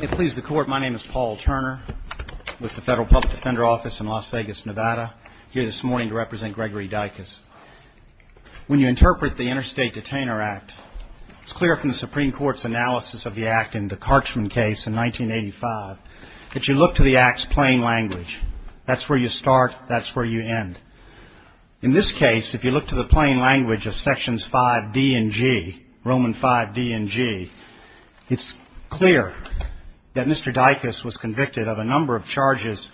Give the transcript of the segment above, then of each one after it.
It pleases the Court, my name is Paul Turner with the Federal Public Defender Office in Las Vegas, Nevada, here this morning to represent Gregory Dicus. When you interpret the Interstate Detainer Act, it's clear from the Supreme Court's analysis of the act in the Karchman case in 1985 that you look to the act's plain language. That's where you start, that's where you end. In this case, if you look to the plain language of sections 5d and g, Roman 5d and g, it's clear that Mr. Dicus was convicted of a number of charges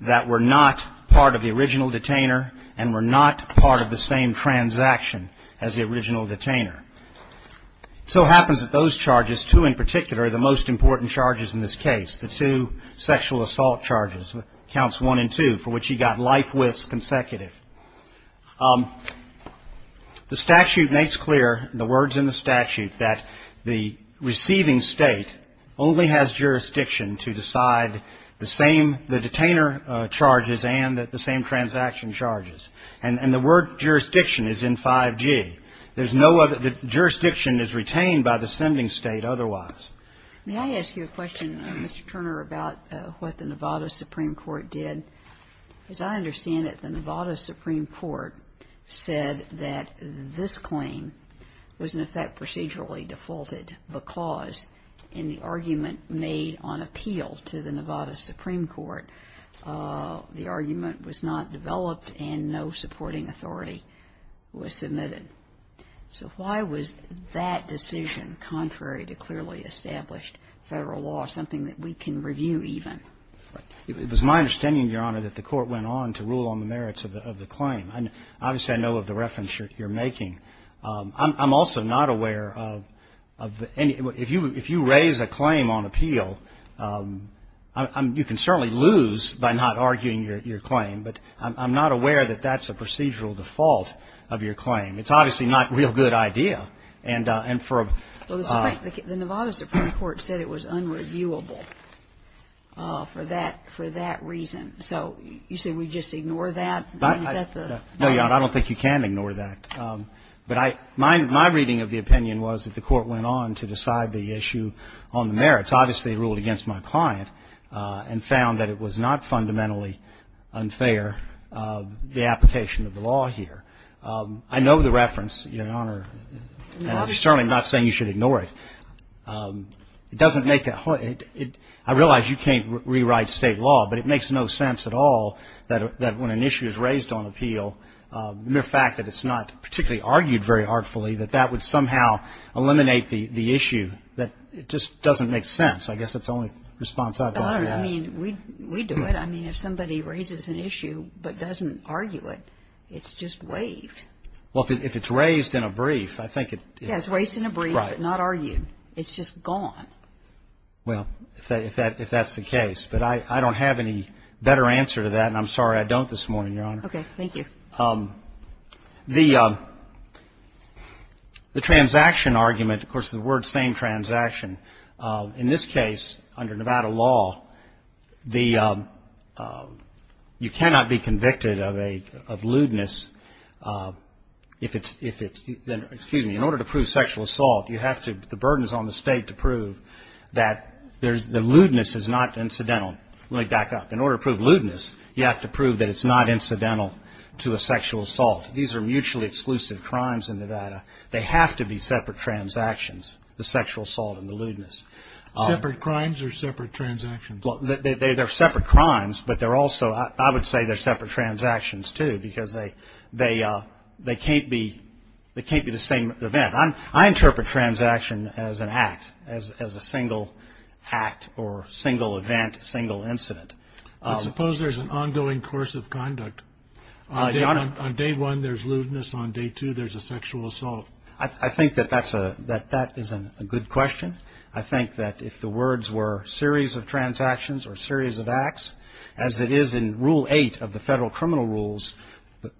that were not part of the original detainer and were not part of the same transaction as the original detainer. So it happens that those charges, two in particular, the most important charges in this case, the two sexual The statute makes clear, in the words in the statute, that the receiving state only has jurisdiction to decide the same, the detainer charges and the same transaction charges. And the word jurisdiction is in 5g. There's no other, the jurisdiction is retained by the sending state otherwise. May I ask you a question, Mr. Turner, about what the Nevada Supreme Court did? As I understand it, the Nevada Supreme Court said that this claim was, in effect, procedurally defaulted because in the argument made on appeal to the Nevada Supreme Court, the argument was not developed and no supporting authority was submitted. So why was that decision, contrary to clearly established federal law, something that we can review even? It was my understanding, Your Honor, that the court went on to rule on the merits of the claim. And obviously, I know of the reference you're making. I'm also not aware of any, if you raise a claim on appeal, you can certainly lose by not arguing your claim. But I'm not aware that that's a procedural default of your claim. It's obviously not a real good idea. And for a... Well, the Nevada Supreme Court said it was unreviewable for that reason. So you say we just ignore that? No, Your Honor, I don't think you can ignore that. But my reading of the opinion was that the court went on to decide the issue on the merits. Obviously, it ruled against my client and found that it was not fundamentally unfair, the application of the law here. I know the reference, Your Honor, and I'm certainly not saying you should ignore it. It doesn't make that whole... I realize you can't rewrite state law, but it makes no sense at all that when an issue is raised on appeal, the mere fact that it's not particularly argued very artfully, that that would somehow eliminate the issue, that it just doesn't make sense. I guess that's the only response I've gotten. I don't know. I mean, we do it. I mean, if somebody raises an issue but doesn't argue it, it's just waived. Well, if it's raised in a brief, I think it... Yeah, it's raised in a brief, but not argued. It's just gone. Well, if that's the case. But I don't have any better answer to that, and I'm sorry I don't this morning, Your Honor. Okay, thank you. The transaction argument, of course, the word same transaction, in this case, under Nevada law, you cannot be convicted of lewdness if it's... Excuse me. In order to prove sexual assault, you have to... The burden is on the state to prove that the lewdness is not incidental. Let me back up. In order to prove lewdness, you have to prove that it's not incidental to a sexual assault. These are mutually exclusive crimes in Nevada. They have to be separate transactions, the sexual assault and the lewdness. Separate crimes or separate transactions? Well, they're separate crimes, but they're also... I would say they're separate transactions, too, because they can't be the same event. I interpret transaction as an act, as a single act or single event, single incident. I suppose there's an ongoing course of conduct. Your Honor... On day one, there's lewdness. On day two, there's a sexual assault. I think that that is a good question. I think that if the words were series of transactions or series of acts, as it is in Rule 8 of the Federal Criminal Rules,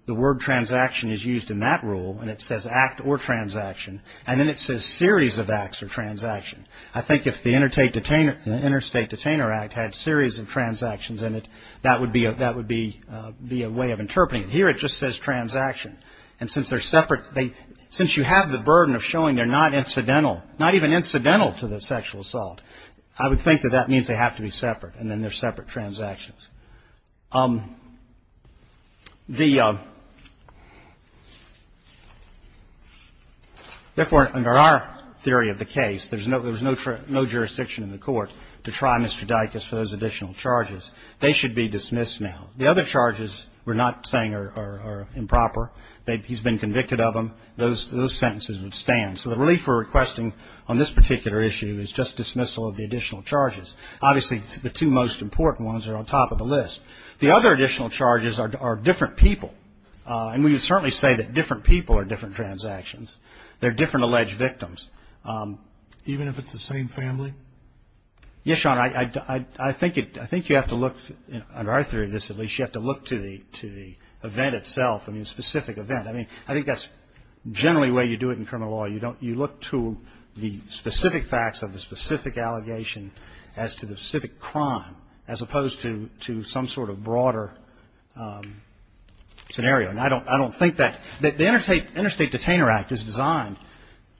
the word transaction is used in that rule, and it says act or transaction, and then it says series of acts or transaction. I think if the Interstate Detainer Act had series of transactions in it, that would be a way of interpreting it. Here, it just says transaction. And since they're separate, since you have the burden of showing they're not incidental, to the sexual assault, I would think that that means they have to be separate, and then they're separate transactions. Therefore, under our theory of the case, there's no jurisdiction in the court to try Mr. Dicus for those additional charges. They should be dismissed now. The other charges we're not saying are improper. He's been convicted of them. Those sentences would stand. So the relief we're requesting on this particular issue is just dismissal of the additional charges. Obviously, the two most important ones are on top of the list. The other additional charges are different people, and we would certainly say that different people are different transactions. They're different alleged victims. Even if it's the same family? Yes, Sean, I think you have to look, under our theory of this at least, you have to look to the event itself, I mean, the specific event. I mean, I think that's generally the way you do it in criminal law. You look to the specific facts of the specific allegation as to the specific crime, as opposed to some sort of broader scenario. And I don't think that the Interstate Detainer Act is designed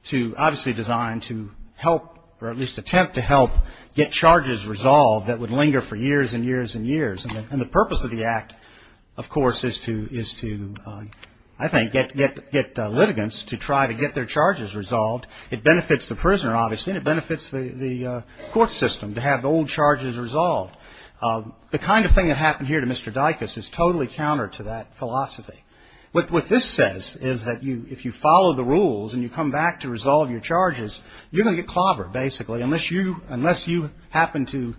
to, obviously designed to help, or at least attempt to help, get charges resolved that would linger for years and years and years. And the purpose of the act, of course, is to, I think, get litigants to try to get their charges resolved. It benefits the prisoner, obviously, and it benefits the court system to have old charges resolved. The kind of thing that happened here to Mr. Dicus is totally counter to that philosophy. What this says is that if you follow the rules and you come back to resolve your charges, you're going to get clobbered, basically, unless you happen to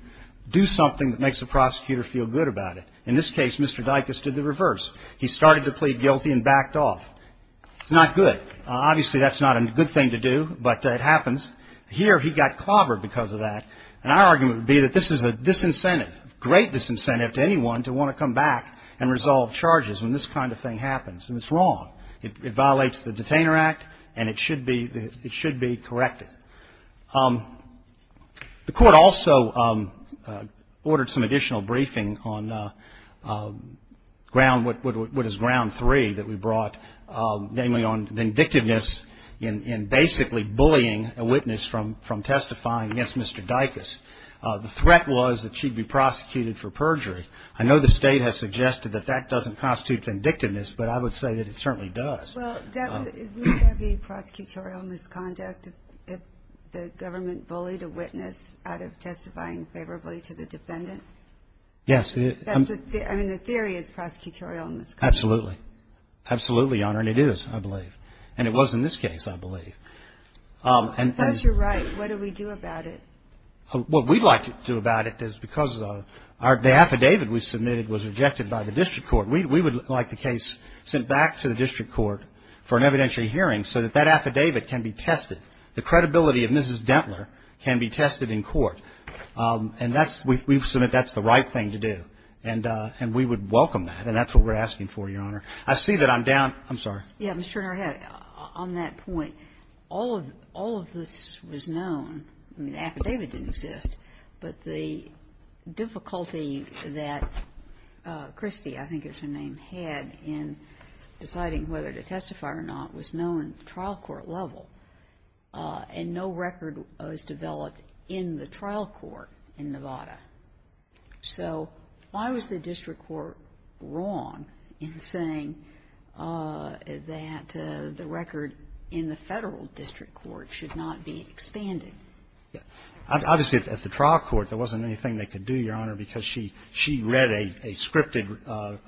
do something that makes the prosecutor feel good about it. In this case, Mr. Dicus did the reverse. He started to plead guilty and backed off. It's not good. Obviously, that's not a good thing to do, but it happens. Here, he got clobbered because of that, and our argument would be that this is a disincentive, great disincentive to anyone to want to come back and resolve charges when this kind of thing happens, and it's wrong. It violates the Detainer Act, and it should be corrected. The court also ordered some additional briefing on ground, what is ground three that we brought, namely on vindictiveness in basically bullying a witness from testifying against Mr. Dicus. The threat was that she'd be prosecuted for perjury. I know the state has suggested that that doesn't constitute vindictiveness, but I would say that it certainly does. Well, would that be prosecutorial misconduct if the government bullied a witness out of testifying favorably to the defendant? Yes. I mean, the theory is prosecutorial misconduct. Absolutely. Absolutely, Your Honor, and it is, I believe, and it was in this case, I believe. That's your right. What do we do about it? What we'd like to do about it is because the affidavit we submitted was rejected by the district court. We would like the case sent back to the district court for an evidentiary hearing so that that affidavit can be tested. The credibility of Mrs. Dentler can be tested in court, and we've submitted that's the right thing to do, and we would welcome that, and that's what we're asking for, Your Honor. I see that I'm down. I'm sorry. Yeah, Mr. Turner, on that point, all of this was known. I mean, the affidavit didn't exist, but the difficulty that Christy, I think is her name, had in deciding whether to testify or not was known at the trial court level, and no record was developed in the trial court in Nevada. So why was the district court wrong in saying that the record in the federal district court should not be expanded? Obviously, at the trial court, there wasn't anything they could do, Your Honor, because she read a scripted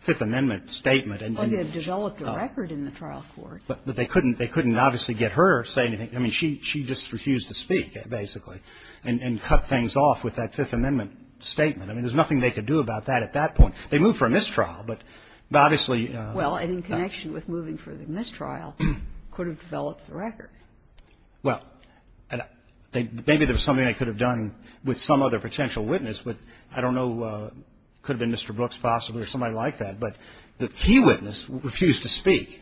Fifth Amendment statement. Well, they had developed a record in the trial court. But they couldn't obviously get her to say anything. I mean, she just refused to speak, basically, and cut things off with that Fifth Amendment statement. I mean, there's nothing they could do about that at that point. They moved for a mistrial, but obviously — Well, and in connection with moving for the mistrial, could have developed the record. Well, maybe there was something they could have done with some other potential witness, but I don't know, could have been Mr. Brooks, possibly, or somebody like that. But the key witness refused to speak.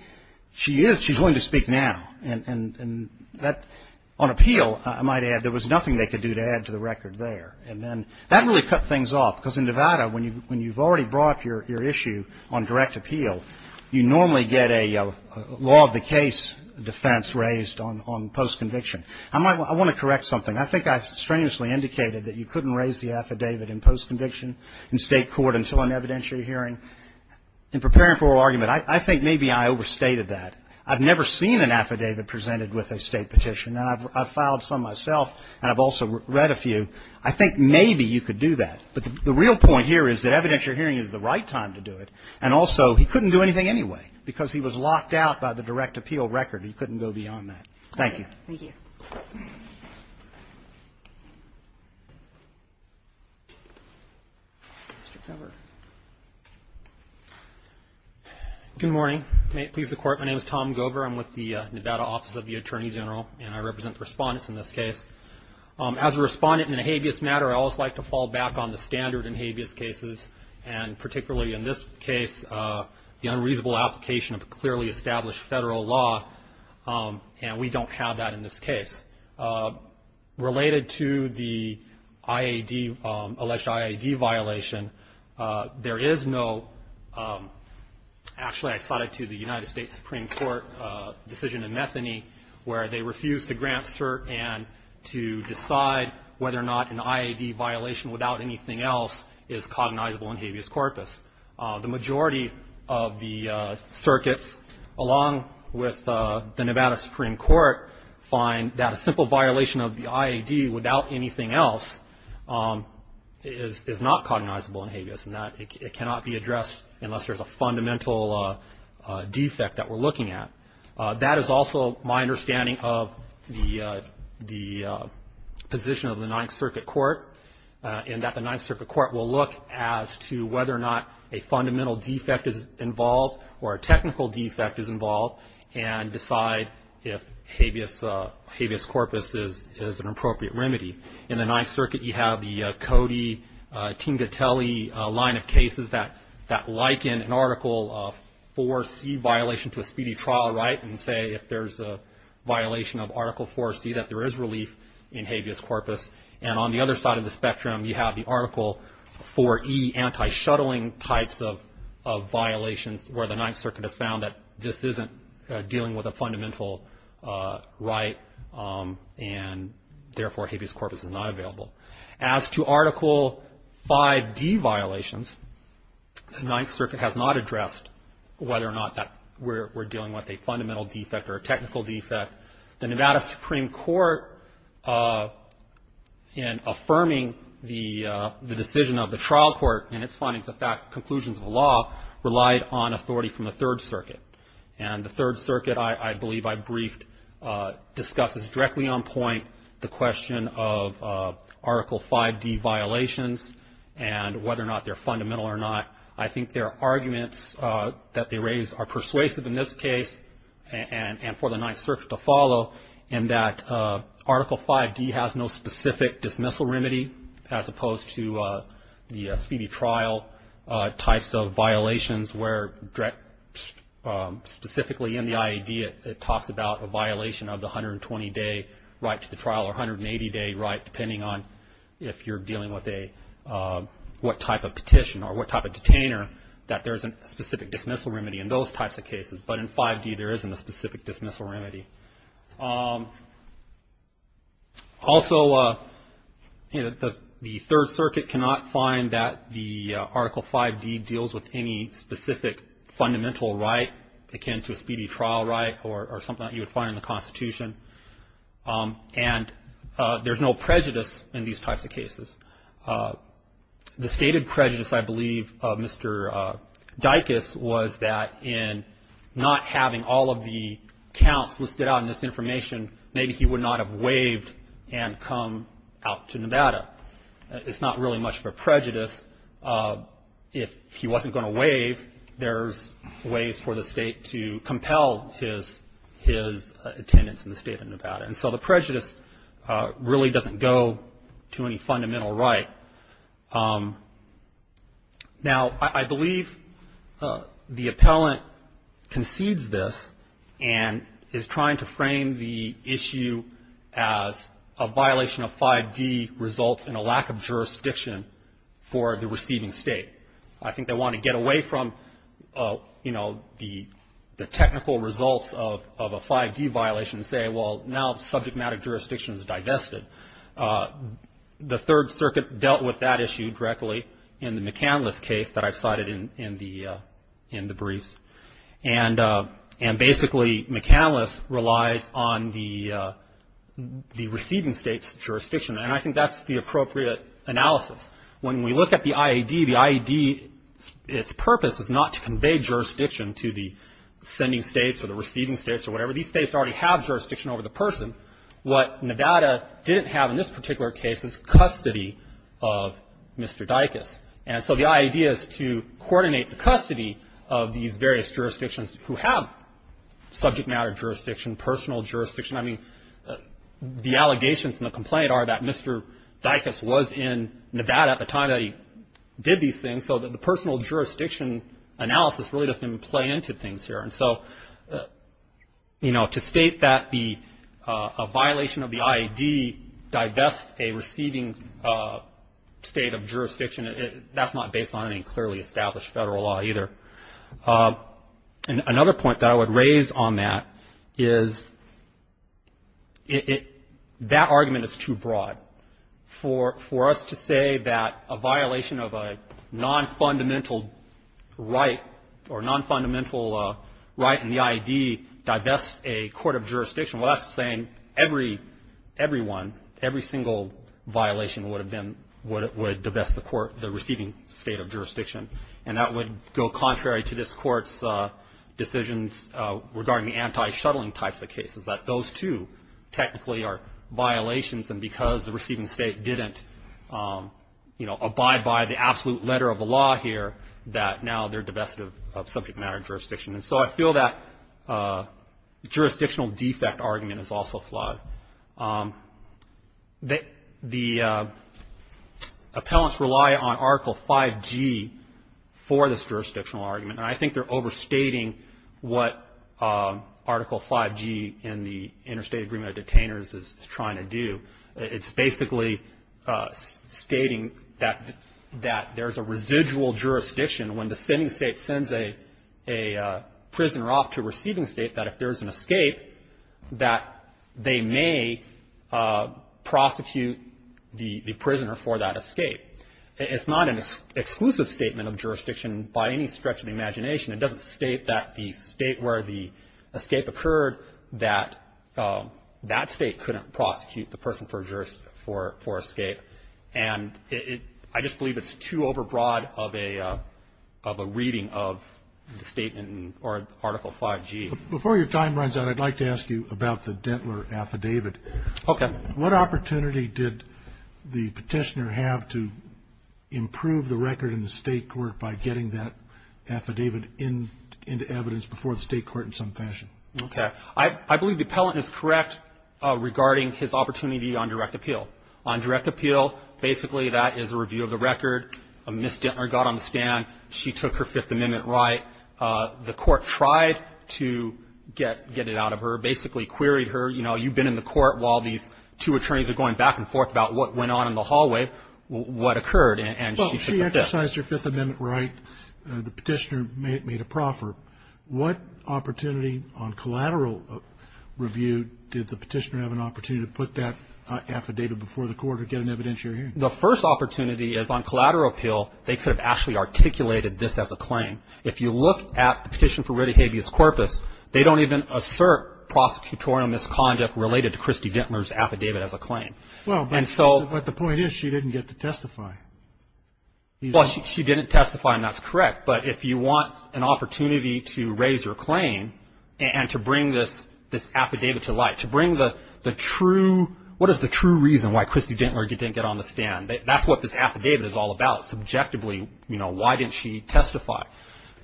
She is — she's willing to speak now, and that — on appeal, I might add, there was nothing they could do to add to the record there. And then that really cut things off, because in Nevada, when you've already brought up your issue on direct appeal, you normally get a law-of-the-case defense raised on post-conviction. I want to correct something. I think I strenuously indicated that you couldn't raise the affidavit in post-conviction in state court until an evidentiary hearing. In preparing for argument, I think maybe I overstated that. I've never seen an affidavit presented with a state petition, and I've filed some myself, and I've also read a few. I think maybe you could do that. But the real point here is that evidentiary hearing is the right time to do it, and also, he couldn't do anything anyway, because he was locked out by the direct appeal record. He couldn't go beyond that. Thank you. Thank you. Mr. Gover. Good morning. May it please the Court, my name is Tom Gover. I'm with the Nevada Office of the Attorney General, and I represent the respondents in this case. As a respondent in a habeas matter, I always like to fall back on the standard in habeas cases, and particularly in this case, the unreasonable application of a clearly established federal law. And we don't have that in this case. Related to the alleged IAD violation, there is no, actually I cited to the United States Supreme Court decision in Methony, where they refused to grant cert and to decide whether or not an IAD violation without anything else is cognizable in habeas corpus. The majority of the circuits, along with the Nevada Supreme Court, find that a simple violation of the IAD without anything else is not cognizable in habeas, and that it cannot be addressed unless there's a fundamental defect that we're looking at. That is also my understanding of the position of the Ninth Circuit Court, in that the Ninth Circuit Court will look as to whether or not a fundamental defect is involved, or a technical defect is involved, and decide if habeas corpus is an appropriate remedy. In the Ninth Circuit, you have the Cody-Tingatelli line of cases that liken an Article IV-C violation to a speedy trial, right? And say if there's a violation of Article IV-C, that there is relief in habeas corpus. And on the other side of the spectrum, you have the Article IV-E anti-shuttling types of violations, where the Ninth Circuit has found that this isn't dealing with a fundamental right, and therefore habeas corpus is not available. As to Article V-D violations, the Ninth Circuit has not addressed whether or not that we're dealing with a fundamental defect or a technical defect. The Nevada Supreme Court, in affirming the decision of the trial court and its findings, the conclusions of the law, relied on authority from the Third Circuit. And the Third Circuit, I believe I briefed, discusses directly on point the question of Article V-D violations, and whether or not they're fundamental or not. I think their arguments that they raise are persuasive in this case, and for the Ninth Circuit to follow, in that Article V-D has no specific dismissal remedy, as opposed to the speedy trial types of violations, where specifically in the IED it talks about a violation of the 120-day right to the trial, or 180-day right, depending on if you're dealing with what type of petition or what type of detainer, that there isn't a specific dismissal remedy in those types of cases. But in V-D there isn't a specific dismissal remedy. Also, the Third Circuit cannot find that the Article V-D deals with any specific fundamental right akin to a speedy trial right, or something that you would find in the Constitution. And there's no prejudice in these types of cases. The stated prejudice, I believe, of Mr. Dicus was that in not having all of the counts listed out in this information, maybe he would not have waived and come out to Nevada. It's not really much of a prejudice. If he wasn't going to waive, there's ways for the state to compel his attendance in the state of Nevada. And so the prejudice really doesn't go to any fundamental right. Now, I believe the appellant concedes this and is trying to frame the issue as a violation of V-D results in a lack of jurisdiction for the receiving state. I think they want to get away from the technical results of a V-D violation and say, well, now subject matter jurisdiction is divested. The Third Circuit dealt with that issue directly in the McCandless case that I've cited in the briefs. And basically, McCandless relies on the receiving state's jurisdiction. And I think that's the appropriate analysis. When we look at the IED, the IED, its purpose is not to convey jurisdiction to the sending states or the receiving states or whatever. These states already have jurisdiction over the person. What Nevada didn't have in this particular case is custody of Mr. Dicus. And so the IED is to coordinate the custody of these various jurisdictions who have subject matter jurisdiction, personal jurisdiction. I mean, the allegations in the complaint are that Mr. Dicus was in Nevada at the time that he did these things, so the personal jurisdiction analysis really doesn't even play into things here. And so, you know, to state that a violation of the IED divests a receiving state of jurisdiction, that's not based on any clearly established federal law either. And another point that I would raise on that is that argument is too broad. For us to say that a violation of a non-fundamental right or non-fundamental right in the IED divests a court of jurisdiction, well, that's saying everyone, every single violation would divest the receiving state of jurisdiction. And that would go contrary to this Court's decisions regarding the anti-shuttling types of cases, that those two technically are violations, and because the receiving state didn't, you know, abide by the absolute letter of the law here, that now they're divested of subject matter jurisdiction. And so I feel that jurisdictional defect argument is also flawed. The appellants rely on Article 5G for this jurisdictional argument, and I think they're overstating what Article 5G in the Interstate Agreement of Detainers is trying to do. It's basically stating that there's a residual jurisdiction. When the sending state sends a prisoner off to a receiving state, that if there's an escape, that they may prosecute the prisoner for that escape. It's not an exclusive statement of jurisdiction by any stretch of the imagination. It doesn't state that the state where the escape occurred, that that state couldn't prosecute the person for escape. And I just believe it's too overbroad of a reading of the statement or Article 5G. Before your time runs out, I'd like to ask you about the Dentler affidavit. Okay. What opportunity did the petitioner have to improve the record in the state court by getting that affidavit into evidence before the state court in some fashion? Okay. I believe the appellant is correct regarding his opportunity on direct appeal. On direct appeal, basically that is a review of the record. Ms. Dentler got on the stand. She took her Fifth Amendment right. The court tried to get it out of her, basically queried her. You know, you've been in the court while these two attorneys are going back and forth about what went on in the hallway, what occurred, and she took the fit. Well, she exercised her Fifth Amendment right. The petitioner made a proffer. What opportunity on collateral review did the petitioner have an opportunity to put that affidavit before the court to get an evidence you're hearing? The first opportunity is on collateral appeal, they could have actually articulated this as a claim. If you look at the petition for writ of habeas corpus, they don't even assert prosecutorial misconduct related to Christy Dentler's affidavit as a claim. Well, but the point is she didn't get to testify. Well, she didn't testify, and that's correct. But if you want an opportunity to raise your claim and to bring this affidavit to light, to bring the true, what is the true reason why Christy Dentler didn't get on the stand? That's what this affidavit is all about subjectively. I mean, you know, why didn't she testify?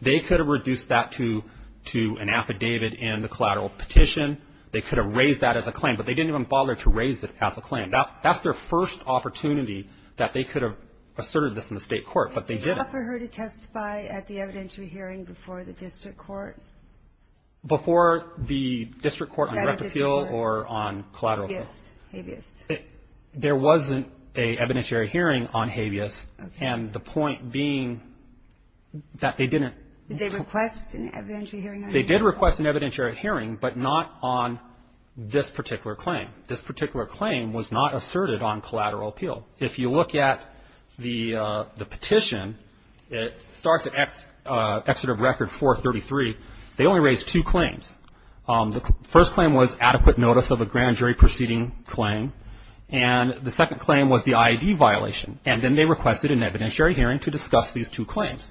They could have reduced that to an affidavit in the collateral petition. They could have raised that as a claim, but they didn't even bother to raise it as a claim. That's their first opportunity that they could have asserted this in the state court, but they didn't. Did you offer her to testify at the evidentiary hearing before the district court? Before the district court on writ of appeal or on collateral appeal? Yes, habeas. There wasn't an evidentiary hearing on habeas, and the point being that they didn't. Did they request an evidentiary hearing on habeas? They did request an evidentiary hearing, but not on this particular claim. This particular claim was not asserted on collateral appeal. If you look at the petition, it starts at Exeter Record 433. They only raised two claims. The first claim was adequate notice of a grand jury proceeding claim, and the second claim was the IED violation, and then they requested an evidentiary hearing to discuss these two claims.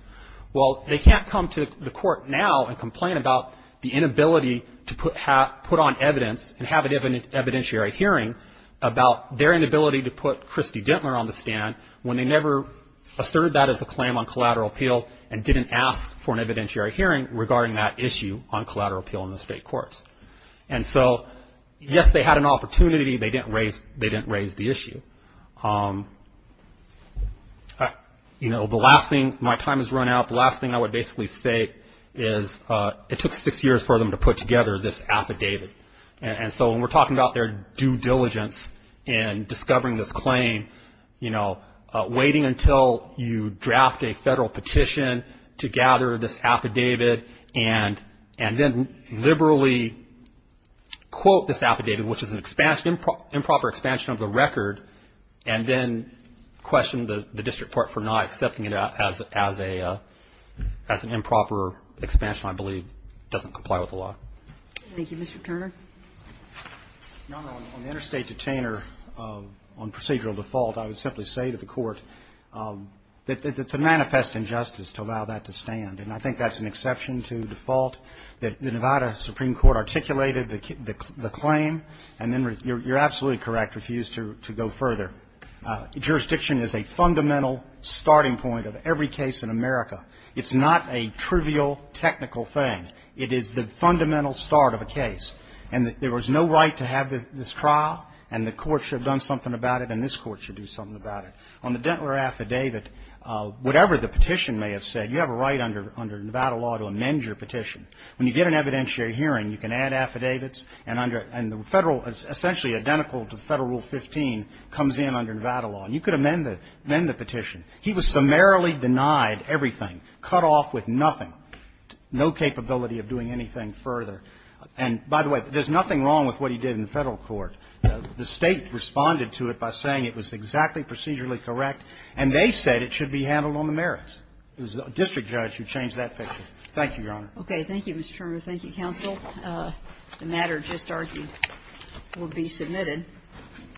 Well, they can't come to the court now and complain about the inability to put on evidence and have an evidentiary hearing about their inability to put Christy Dentler on the stand when they never asserted that as a claim on collateral appeal and didn't ask for an evidentiary hearing regarding that issue on collateral appeal in the state courts. And so, yes, they had an opportunity. They didn't raise the issue. You know, my time has run out. The last thing I would basically say is it took six years for them to put together this affidavit, and so when we're talking about their due diligence in discovering this claim, you know, and then liberally quote this affidavit, which is an improper expansion of the record, and then question the district court for not accepting it as an improper expansion, I believe, doesn't comply with the law. Thank you. Mr. Turner. Your Honor, on the interstate detainer, on procedural default, I would simply say to the court that it's a manifest injustice to allow that to stand, and I think that's an exception to default. The Nevada Supreme Court articulated the claim, and then you're absolutely correct, refused to go further. Jurisdiction is a fundamental starting point of every case in America. It's not a trivial technical thing. It is the fundamental start of a case, and there was no right to have this trial, and the court should have done something about it, and this court should do something about it. On the Dentler affidavit, whatever the petition may have said, you have a right under Nevada law to amend your petition. When you get an evidentiary hearing, you can add affidavits, and the Federal, essentially identical to Federal Rule 15, comes in under Nevada law, and you could amend the petition. He was summarily denied everything, cut off with nothing, no capability of doing anything further. And, by the way, there's nothing wrong with what he did in the Federal court. The State responded to it by saying it was exactly procedurally correct, and they said it should be handled on the merits. It was the district judge who changed that picture. Thank you, Your Honor. Okay. Thank you, Mr. Turner. Thank you, counsel. The matter just argued will be submitted.